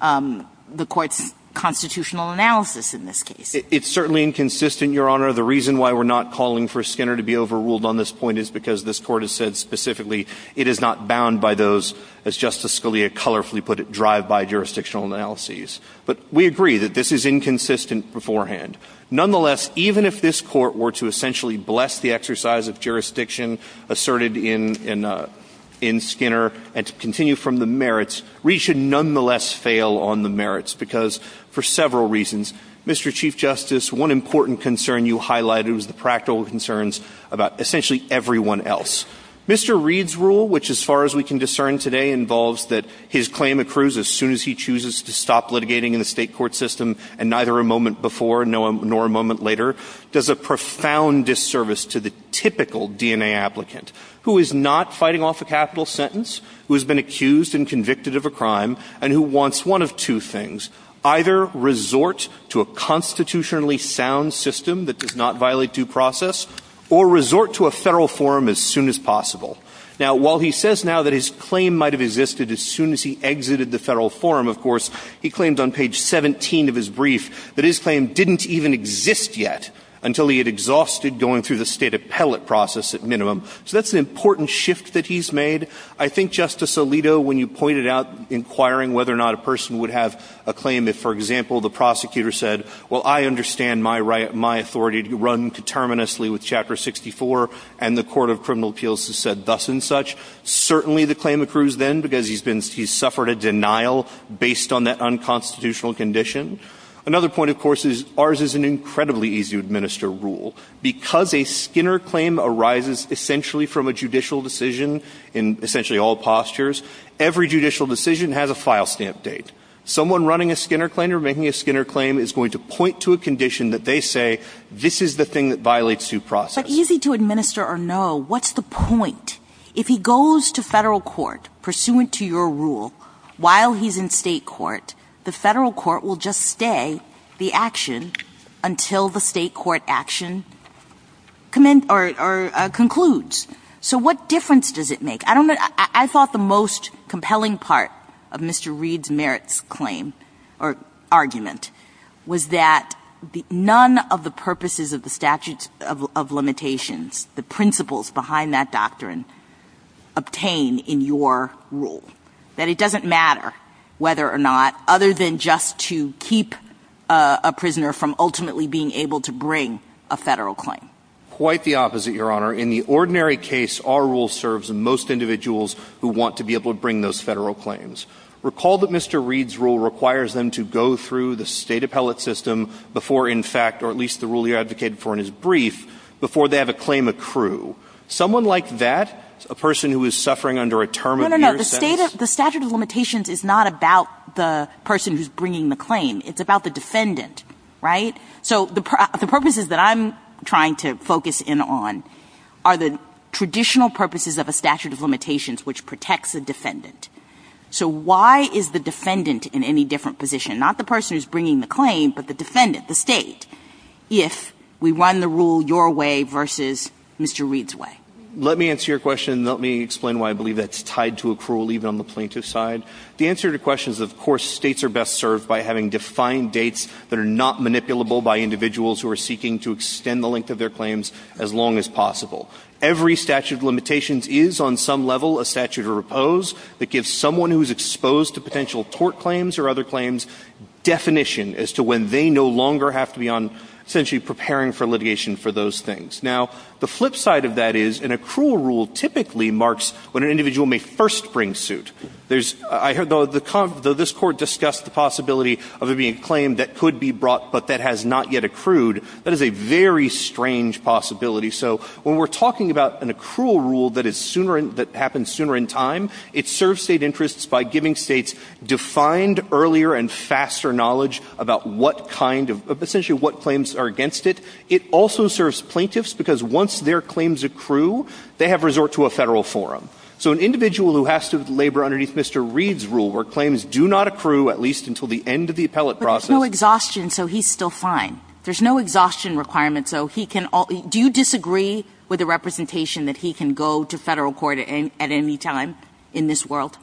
the Court's constitutional analysis in this case? It's certainly inconsistent, Your Honor. The reason why we're not calling for Skinner to be overruled on this point is because this Court has said specifically it is not bound by those, as Justice Scalia colorfully put it, drive-by jurisdictional analyses. But we agree that this is inconsistent beforehand. Nonetheless, even if this Court were to essentially bless the exercise of jurisdiction asserted in Skinner and continue from the merits, Reed should nonetheless fail on the merits, because for several reasons. Mr. Chief Justice, one important concern you highlighted was the practical concerns about essentially everyone else. Mr. Reed's rule, which as far as we can discern today involves that his claim accrues as soon as he chooses to stop litigating in the state court system and neither a moment before nor a moment later, does a profound disservice to the typical DNA applicant who is not fighting off a capital sentence, who has been accused and convicted of a crime, and who wants one of two things, either resort to a constitutionally sound system that does not violate due process, or resort to a Federal forum as soon as possible. Now, while he says now that his claim might have existed as soon as he exited the Federal forum, of course, he claimed on page 17 of his brief that his claim didn't even exist yet until he had exhausted going through the State appellate process at minimum. So that's an important shift that he's made. I think, Justice Alito, when you pointed out inquiring whether or not a person would have a claim if, for example, the prosecutor said, well, I understand my right, my authority to run determinously with Chapter 64 and the Court of Criminal Appeals has said thus and such, certainly the claim accrues then because he's been he's suffered a denial based on that unconstitutional condition. Another point, of course, is ours is an incredibly easy to administer rule. Because a Skinner claim arises essentially from a judicial decision in essentially all postures, every judicial decision has a file stamp date. Someone running a Skinner claim or making a Skinner claim is going to point to a condition that they say this is the thing that violates due process. But easy to administer or no, what's the point? If he goes to Federal court pursuant to your rule while he's in State court, the Federal court will just stay the action until the State court action commends or concludes. So what difference does it make? I don't know. I thought the most compelling part of Mr. Reed's merits claim or argument was that none of the purposes of the statute of limitations, the principles behind that doctrine obtain in your rule. That it doesn't matter whether or not, other than just to keep a prisoner from ultimately being able to bring a Federal claim. Quite the opposite, Your Honor. In the ordinary case, our rule serves most individuals who want to be able to bring those Federal claims. Recall that Mr. Reed's rule requires them to go through the State appellate system before in fact, or at least the rule you advocated for in his brief, before they have a claim accrue. Someone like that, a person who is suffering under a term of your sentence. No, no, no. The statute of limitations is not about the person who's bringing the claim. It's about the defendant. Right? So the purposes that I'm trying to focus in on are the traditional purposes of a statute of limitations which protects the defendant. So why is the defendant in any different position, not the person who's bringing the claim, but the defendant, the State, if we run the rule your way versus Mr. Reed's way? Let me answer your question and let me explain why I believe that's tied to accrual even on the plaintiff's side. The answer to your question is, of course, States are best served by having defined dates that are not manipulable by individuals who are seeking to extend the length of their claims as long as possible. Every statute of limitations is on some level a statute of repose that gives someone who is exposed to potential tort claims or other claims definition as to when they no longer have to be on essentially preparing for litigation for those things. Now, the flip side of that is an accrual rule typically marks when an individual may first bring suit. There's – I heard the – this Court discussed the possibility of it being a claim that could be brought but that has not yet accrued. That is a very strange possibility. So when we're talking about an accrual rule that is sooner – that happens sooner in time, it serves State interests by giving States defined earlier and faster knowledge about what kind of – essentially what claims are against it. It also serves plaintiffs because once their claims accrue, they have resort to a Federal forum. So an individual who has to labor underneath Mr. Reed's rule where claims do not accrue at least until the end of the appellate process – But there's no exhaustion, so he's still fine. There's no exhaustion requirement, so he can – do you disagree with the representation that he can go to Federal court at any time in this world?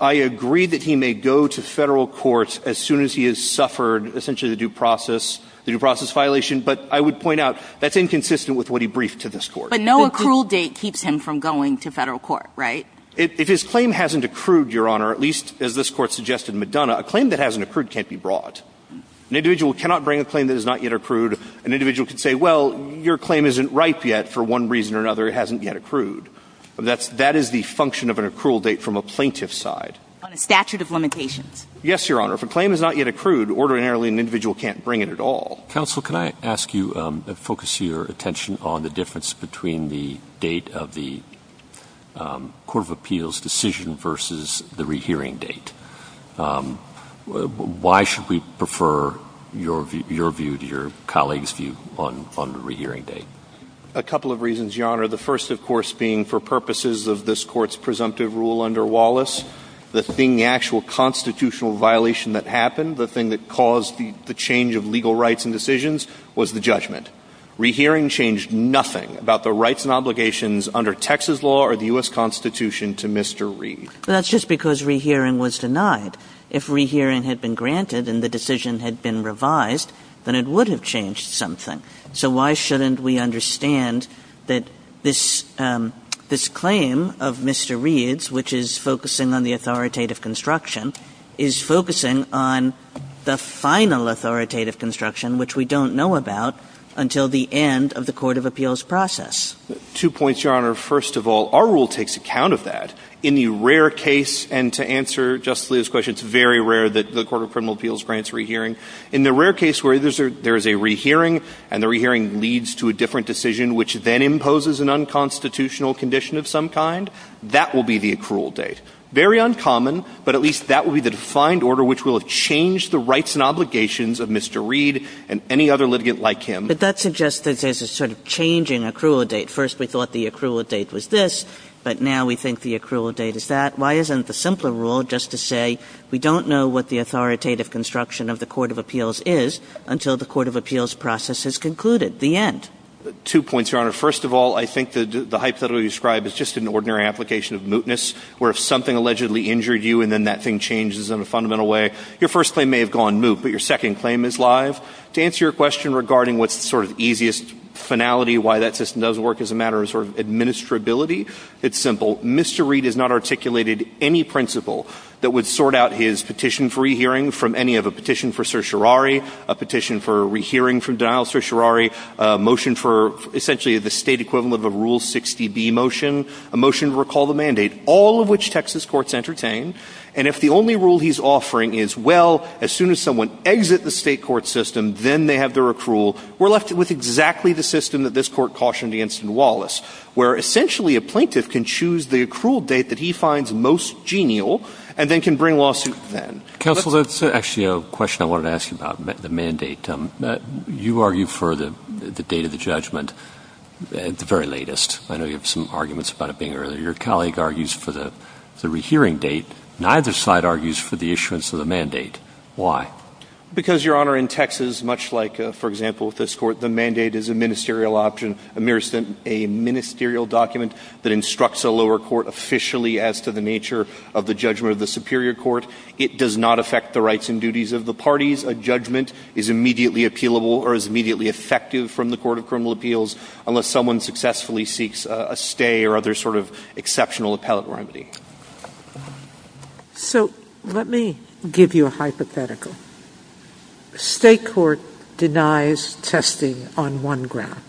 I agree that he may go to Federal court as soon as he has suffered essentially the due process – the due process violation, but I would point out that's inconsistent with what he briefed to this Court. But no accrual date keeps him from going to Federal court, right? If his claim hasn't accrued, Your Honor, at least as this Court suggested in Madonna, a claim that hasn't accrued can't be brought. An individual cannot bring a claim that has not yet accrued. An individual can say, well, your claim isn't ripe yet for one reason or another. It hasn't yet accrued. That's – that is the function of an accrual date from a plaintiff's side. On a statute of limitations. Yes, Your Honor. If a claim has not yet accrued, ordinarily an individual can't bring it at all. Counsel, can I ask you to focus your attention on the difference between the date of the court of appeals decision versus the rehearing date? Why should we prefer your view to your colleague's view on the rehearing date? A couple of reasons, Your Honor. The first, of course, being for purposes of this Court's presumptive rule under Wallace. The thing – the actual constitutional violation that happened, the thing that caused the change of legal rights and decisions was the judgment. Rehearing changed nothing about the rights and obligations under Texas law or the U.S. Constitution to Mr. Reed. That's just because rehearing was denied. If rehearing had been granted and the decision had been revised, then it would have changed something. So why shouldn't we understand that this claim of Mr. Reed's, which is focusing on the authoritative construction, is focusing on the final authoritative construction, which we don't know about, until the end of the court of appeals Two points, Your Honor. First of all, our rule takes account of that. In the rare case – and to answer Justice Alito's question, it's very rare that the court of criminal appeals grants rehearing. In the rare case where there is a rehearing and the rehearing leads to a different decision which then imposes an unconstitutional condition of some kind, that will be the accrual date. Very uncommon, but at least that will be the defined order which will have changed the rights and obligations of Mr. Reed and any other litigant like him. But that suggests that there's a sort of changing accrual date. First we thought the accrual date was this, but now we think the accrual date is that. Why isn't the simpler rule just to say we don't know what the authoritative construction of the court of appeals is until the court of appeals process has concluded, the end? Two points, Your Honor. First of all, I think the hypothetical you described is just an ordinary application of mootness, where if something allegedly injured you and then that thing changes in a fundamental way, your first claim may have gone moot, but your second claim is live. To answer your question regarding what's the sort of easiest finality, why that system doesn't work as a matter of sort of administrability, it's simple. Mr. Reed has not articulated any principle that would sort out his petition for rehearing from any of a petition for certiorari, a petition for rehearing from a petition for certiorari, a motion for essentially the state equivalent of a Rule 60B motion, a motion to recall the mandate, all of which Texas courts entertain. And if the only rule he's offering is, well, as soon as someone exit the state court system, then they have their accrual, we're left with exactly the system that this Court cautioned against in Wallace, where essentially a plaintiff can choose the accrual date that he finds most genial and then can bring lawsuit then. Counsel, that's actually a question I wanted to ask you about, the mandate. You argue for the date of the judgment at the very latest. I know you have some arguments about it being earlier. Your colleague argues for the rehearing date. Neither side argues for the issuance of the mandate. Why? Because, Your Honor, in Texas, much like, for example, with this Court, the mandate is a ministerial option, a ministerial document that instructs a lower court officially as to the nature of the judgment of the superior court. It does not affect the rights and duties of the parties. A judgment is immediately appealable or is immediately effective from the court of criminal appeals unless someone successfully seeks a stay or other sort of exceptional appellate remedy. Sotomayor So let me give you a hypothetical. State court denies testing on one ground.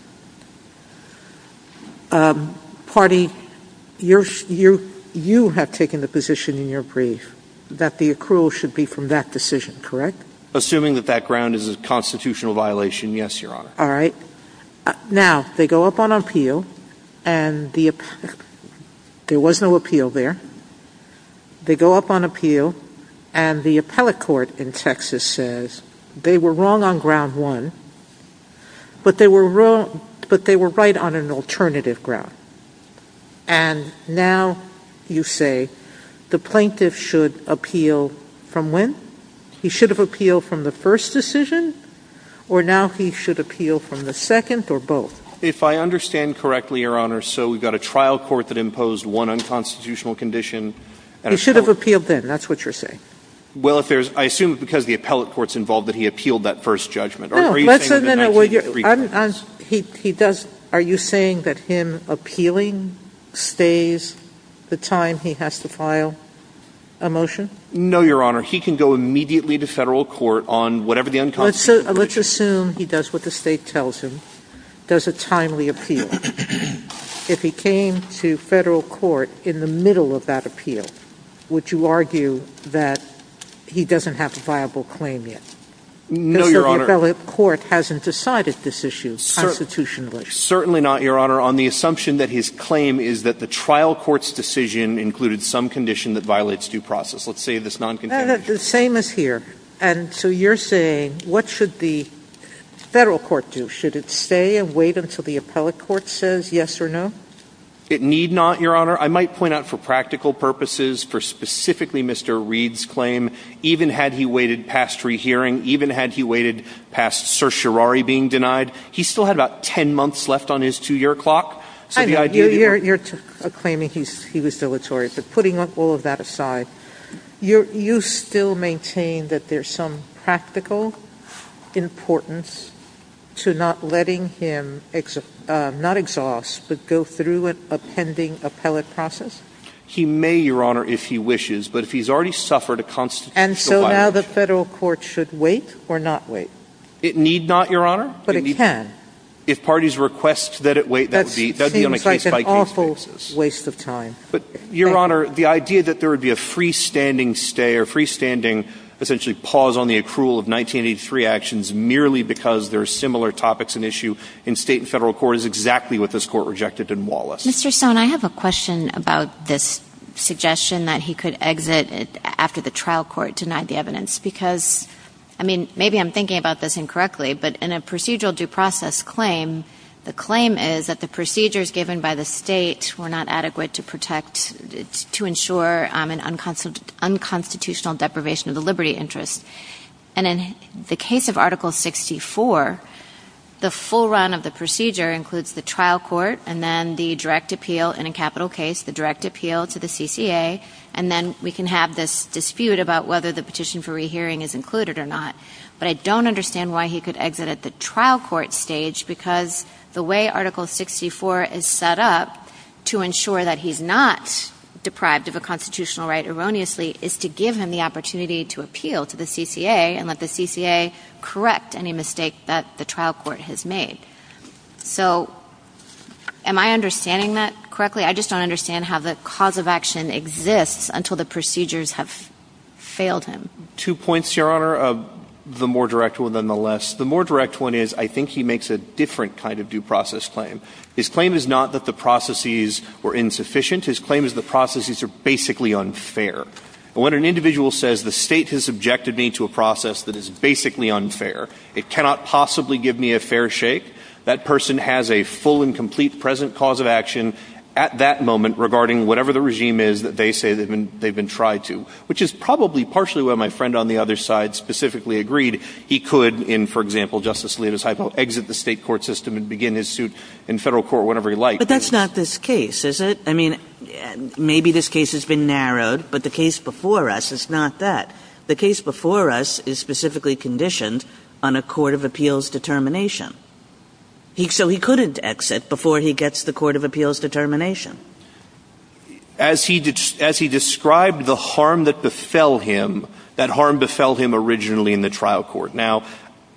Party, you have taken the position in your brief that the accrual should be from that decision, correct? Assuming that that ground is a constitutional violation, yes, Your Honor. All right. Now, they go up on appeal, and there was no appeal there. They go up on appeal, and the appellate court in Texas says they were wrong on ground one, but they were right on an alternative ground. And now you say the plaintiff should appeal from when? He should have appealed from the first decision, or now he should appeal from the second or both? If I understand correctly, Your Honor, so we've got a trial court that imposed one unconstitutional condition. He should have appealed then. That's what you're saying. Well, if there's – I assume it's because the appellate court's involved that he appealed that first judgment. Or are you saying that the 1903 trial? No. He does – are you saying that him appealing stays the time he has to file a motion? No, Your Honor. He can go immediately to Federal court on whatever the unconstitutional condition is. Let's assume he does what the State tells him, does a timely appeal. If he came to Federal court in the middle of that appeal, would you argue that he doesn't have a viable claim yet? No, Your Honor. Because the appellate court hasn't decided this issue constitutionally. Certainly not, Your Honor. On the assumption that his claim is that the trial court's decision included some condition that violates due process. Let's say this noncontamination. The same is here. And so you're saying what should the Federal court do? Should it stay and wait until the appellate court says yes or no? It need not, Your Honor. I might point out for practical purposes, for specifically Mr. Reed's claim, even had he waited past rehearing, even had he waited past certiorari being denied, he still had about 10 months left on his two-year clock. I know. You're claiming he was dilatory. Is there any importance to not letting him not exhaust but go through a pending appellate process? He may, Your Honor, if he wishes. But if he's already suffered a constitutional violation. And so now the Federal court should wait or not wait? It need not, Your Honor. But it can. If parties request that it wait, that would be on a case-by-case basis. That seems like an awful waste of time. But, Your Honor, the idea that there would be a freestanding stay or freestanding essentially pause on the accrual of 1983 actions merely because there are similar topics in issue in state and federal court is exactly what this court rejected in Wallace. Mr. Stone, I have a question about this suggestion that he could exit after the trial court denied the evidence. Because, I mean, maybe I'm thinking about this incorrectly, but in a procedural due process claim, the claim is that the procedures given by the state were not And in the case of Article 64, the full run of the procedure includes the trial court and then the direct appeal in a capital case, the direct appeal to the CCA, and then we can have this dispute about whether the petition for rehearing is included or not. But I don't understand why he could exit at the trial court stage because the way Article 64 is set up to ensure that he's not deprived of a constitutional right erroneously is to give him the opportunity to appeal to the CCA and let the CCA correct any mistake that the trial court has made. So am I understanding that correctly? I just don't understand how the cause of action exists until the procedures have failed him. Two points, Your Honor, the more direct one than the less. The more direct one is I think he makes a different kind of due process claim. His claim is not that the processes were insufficient. His claim is the processes are basically unfair. And when an individual says the state has subjected me to a process that is basically unfair, it cannot possibly give me a fair shake, that person has a full and complete present cause of action at that moment regarding whatever the regime is that they say they've been tried to, which is probably partially why my friend on the other side specifically agreed he could in, for example, Justice Alito's hypo, exit the state court system and begin his suit in federal court whenever he liked. But that's not this case, is it? I mean, maybe this case has been narrowed, but the case before us is not that. The case before us is specifically conditioned on a court of appeals determination. So he couldn't exit before he gets the court of appeals determination. As he described the harm that befell him, that harm befell him originally in the trial court. Now,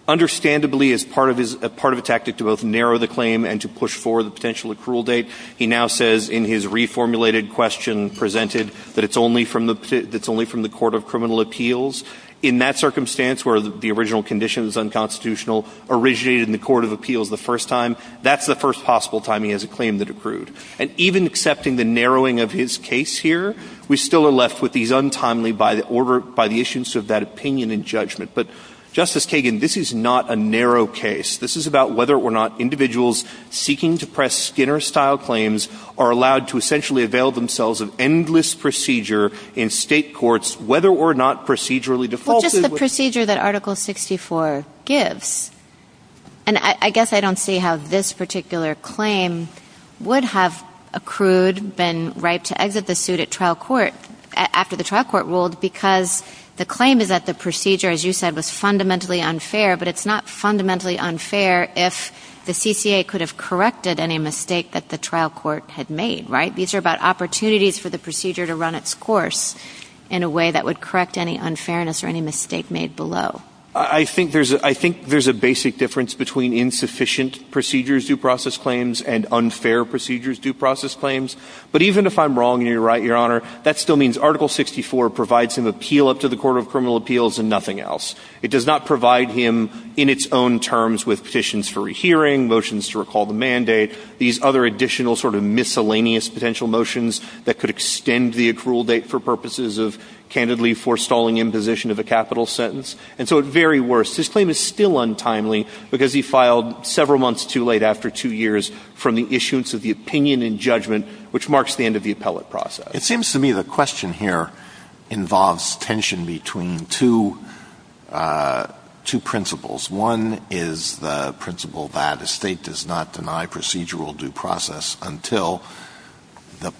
understandably, as part of his – part of a tactic to both narrow the claim and to push forward the potential accrual date, he now says in his reformulated question presented that it's only from the – that it's only from the court of criminal appeals. In that circumstance where the original condition is unconstitutional, originated in the court of appeals the first time, that's the first possible time he has a claim that accrued. And even accepting the narrowing of his case here, we still are left with these untimely by the order – by the issuance of that opinion and judgment. But, Justice Kagan, this is not a narrow case. This is about whether or not individuals seeking to press Skinner-style claims are allowed to essentially avail themselves of endless procedure in state courts, whether or not procedurally defaulted with – Well, just the procedure that Article 64 gives. And I guess I don't see how this particular claim would have accrued, been ripe to exit the suit at trial court – after the trial court ruled because the claim is that the CCA could have corrected any mistake that the trial court had made, right? These are about opportunities for the procedure to run its course in a way that would correct any unfairness or any mistake made below. I think there's a – I think there's a basic difference between insufficient procedures due process claims and unfair procedures due process claims. But even if I'm wrong and you're right, Your Honor, that still means Article 64 provides him appeal up to the court of criminal appeals and nothing else. It does not provide him in its own terms with petitions for rehearing, motions to recall the mandate, these other additional sort of miscellaneous potential motions that could extend the accrual date for purposes of candidly forestalling imposition of a capital sentence. And so at very worst, his claim is still untimely because he filed several months too late after two years from the issuance of the opinion and judgment, which marks the end of the appellate process. So it seems to me the question here involves tension between two – two principles. One is the principle that a State does not deny procedural due process until the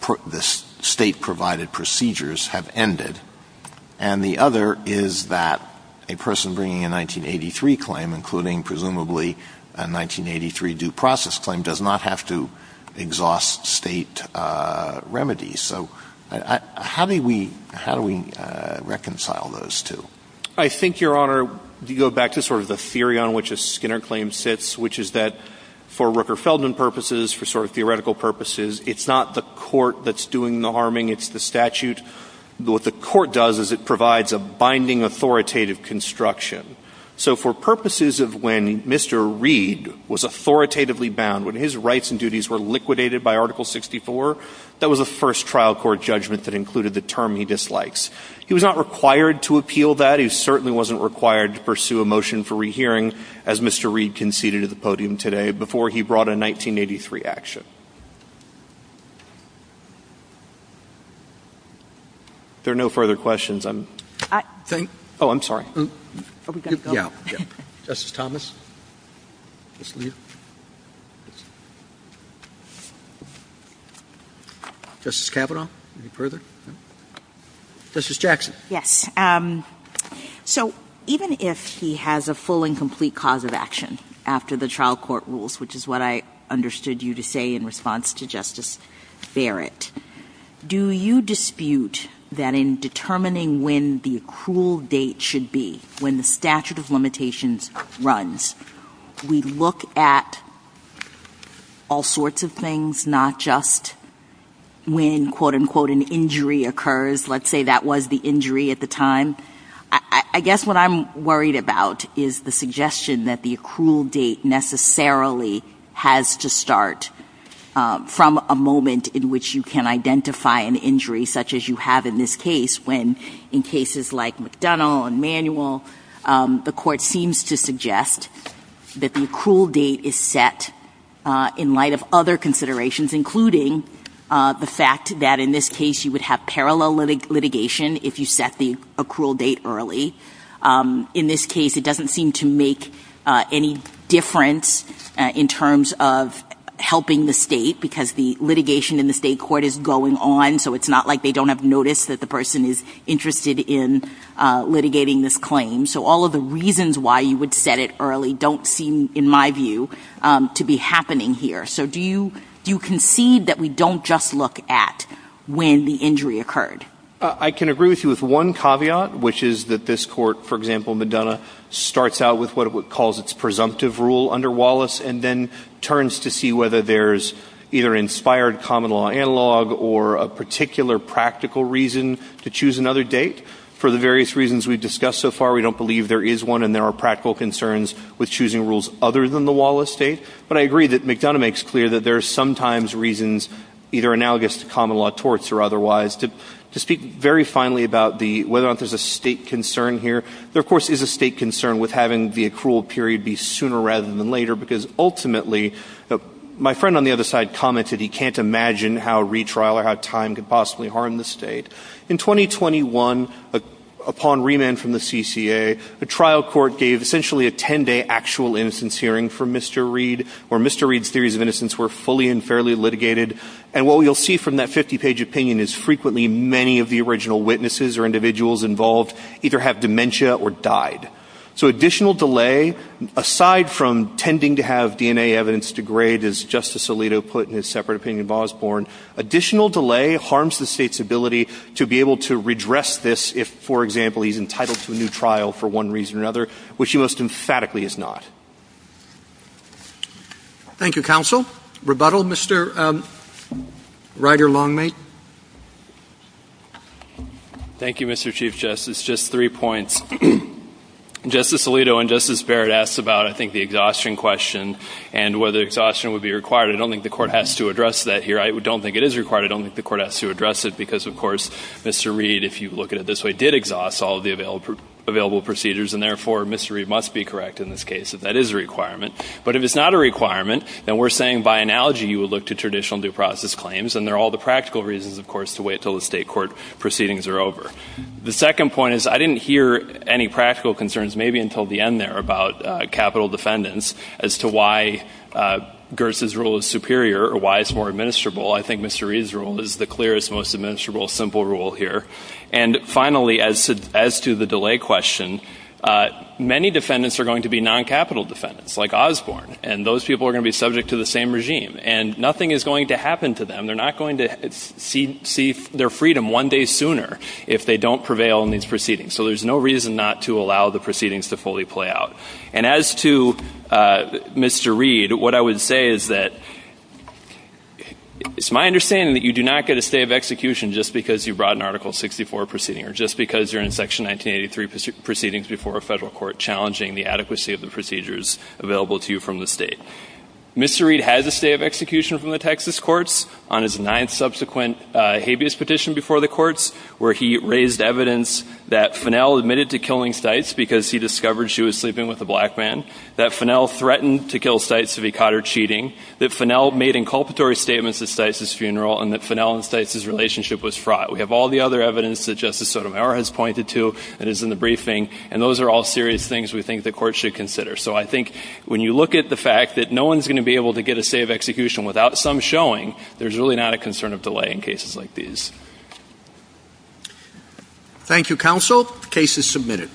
State-provided procedures have ended. And the other is that a person bringing a 1983 claim, including presumably a 1983 due process claim, does not have to exhaust State remedies. So how do we – how do we reconcile those two? I think, Your Honor, you go back to sort of the theory on which a Skinner claim sits, which is that for Rooker-Feldman purposes, for sort of theoretical purposes, it's not the court that's doing the harming, it's the statute. What the court does is it provides a binding authoritative construction. So for purposes of when Mr. Reed was authoritatively bound, when his rights and duties were liquidated by Article 64, that was the first trial court judgment that included the term he dislikes. He was not required to appeal that. He certainly wasn't required to pursue a motion for rehearing, as Mr. Reed conceded at the podium today, before he brought a 1983 action. If there are no further questions, I'm – oh, I'm sorry. Are we going to go? Yeah. Justice Thomas. Justice Kavanaugh. Any further? Justice Jackson. Yes. So even if he has a full and complete cause of action after the trial court rules, which is what I understood you to say in response to Justice Barrett, do you dispute that in determining when the accrual date should be, when the statute of limitations runs, we look at all sorts of things, not just when, quote, unquote, an injury occurs? Let's say that was the injury at the time. I guess what I'm worried about is the suggestion that the accrual date necessarily has to start from a moment in which you can identify an injury such as you have in this case, when in cases like McDonnell and Manuel, the court seems to suggest that the accrual date is set in light of other considerations, including the fact that in this case you would have parallel litigation if you set the accrual date early. In this case, it doesn't seem to make any difference in terms of helping the state because the litigation in the state court is going on, so it's not like they don't have notice that the person is interested in litigating this claim. So all of the reasons why you would set it early don't seem, in my view, to be happening here. So do you concede that we don't just look at when the injury occurred? I can agree with you with one caveat, which is that this court, for example, McDonnell, starts out with what it calls its presumptive rule under Wallace and then turns to see whether there's either inspired common law analog or a particular practical reason to choose another date. For the various reasons we've discussed so far, we don't believe there is one and there are practical concerns with choosing rules other than the Wallace date. But I agree that McDonnell makes clear that there are sometimes reasons, either analogous to common law torts or otherwise. To speak very finally about whether or not there's a state concern here, there, of course, is a state concern with having the accrual period be sooner rather than later because, ultimately, my friend on the other side commented he can't imagine how retrial or how time could possibly harm the state. In 2021, upon remand from the CCA, a trial court gave essentially a ten-day actual innocence hearing for Mr. Reed where Mr. Reed's theories of innocence were fully and fairly litigated. And what you'll see from that 50-page opinion is frequently many of the original witnesses or individuals involved either have dementia or died. So additional delay, aside from tending to have DNA evidence degrade, as Justice Alito put in his separate opinion in Bosborne, additional delay harms the state's ability to be able to redress this if, for example, he's entitled to a new trial for one reason or another, which he most emphatically is not. Thank you, Counsel. Rebuttal, Mr. Ryder-Longmead. Thank you, Mr. Chief Justice. Just three points. Justice Alito and Justice Barrett asked about, I think, the exhaustion question and whether exhaustion would be required. I don't think the Court has to address that here. I don't think it is required. I don't think the Court has to address it because, of course, Mr. Reed, if you look at it this way, did exhaust all of the available procedures and, therefore, Mr. Reed, did exhaust all the available procedures. That is a requirement. But if it's not a requirement, then we're saying, by analogy, you would look to traditional due process claims, and they're all the practical reasons, of course, to wait until the state court proceedings are over. The second point is I didn't hear any practical concerns, maybe until the end there, about capital defendants, as to why Gers' rule is superior or why it's more administrable. I think Mr. Reed's rule is the clearest, most administrable, simple rule here. And, finally, as to the delay question, many defendants are going to be non-capital defendants, like Osborne. And those people are going to be subject to the same regime. And nothing is going to happen to them. They're not going to see their freedom one day sooner if they don't prevail in these proceedings. So there's no reason not to allow the proceedings to fully play out. And as to Mr. Reed, what I would say is that it's my understanding that you do not get a stay of execution just because you brought an Article 64 proceeding or just because you're in Section 1983 proceedings before a federal court challenging the adequacy of the procedures available to you from the state. Mr. Reed has a stay of execution from the Texas courts on his ninth subsequent habeas petition before the courts, where he raised evidence that Fennel admitted to killing Stites because he discovered she was sleeping with a black man, that Fennel threatened to kill Stites if he caught her cheating, that Fennel made inculpatory statements at Stites' funeral, and that Fennel and Stites' relationship was fraught. We have all the other evidence that Justice Sotomayor has pointed to that is in the briefing, and those are all serious things we think the Court should consider. So I think when you look at the fact that no one is going to be able to get a stay of execution without some showing, there's really not a concern of delay in cases like these. Thank you, counsel. The case is submitted.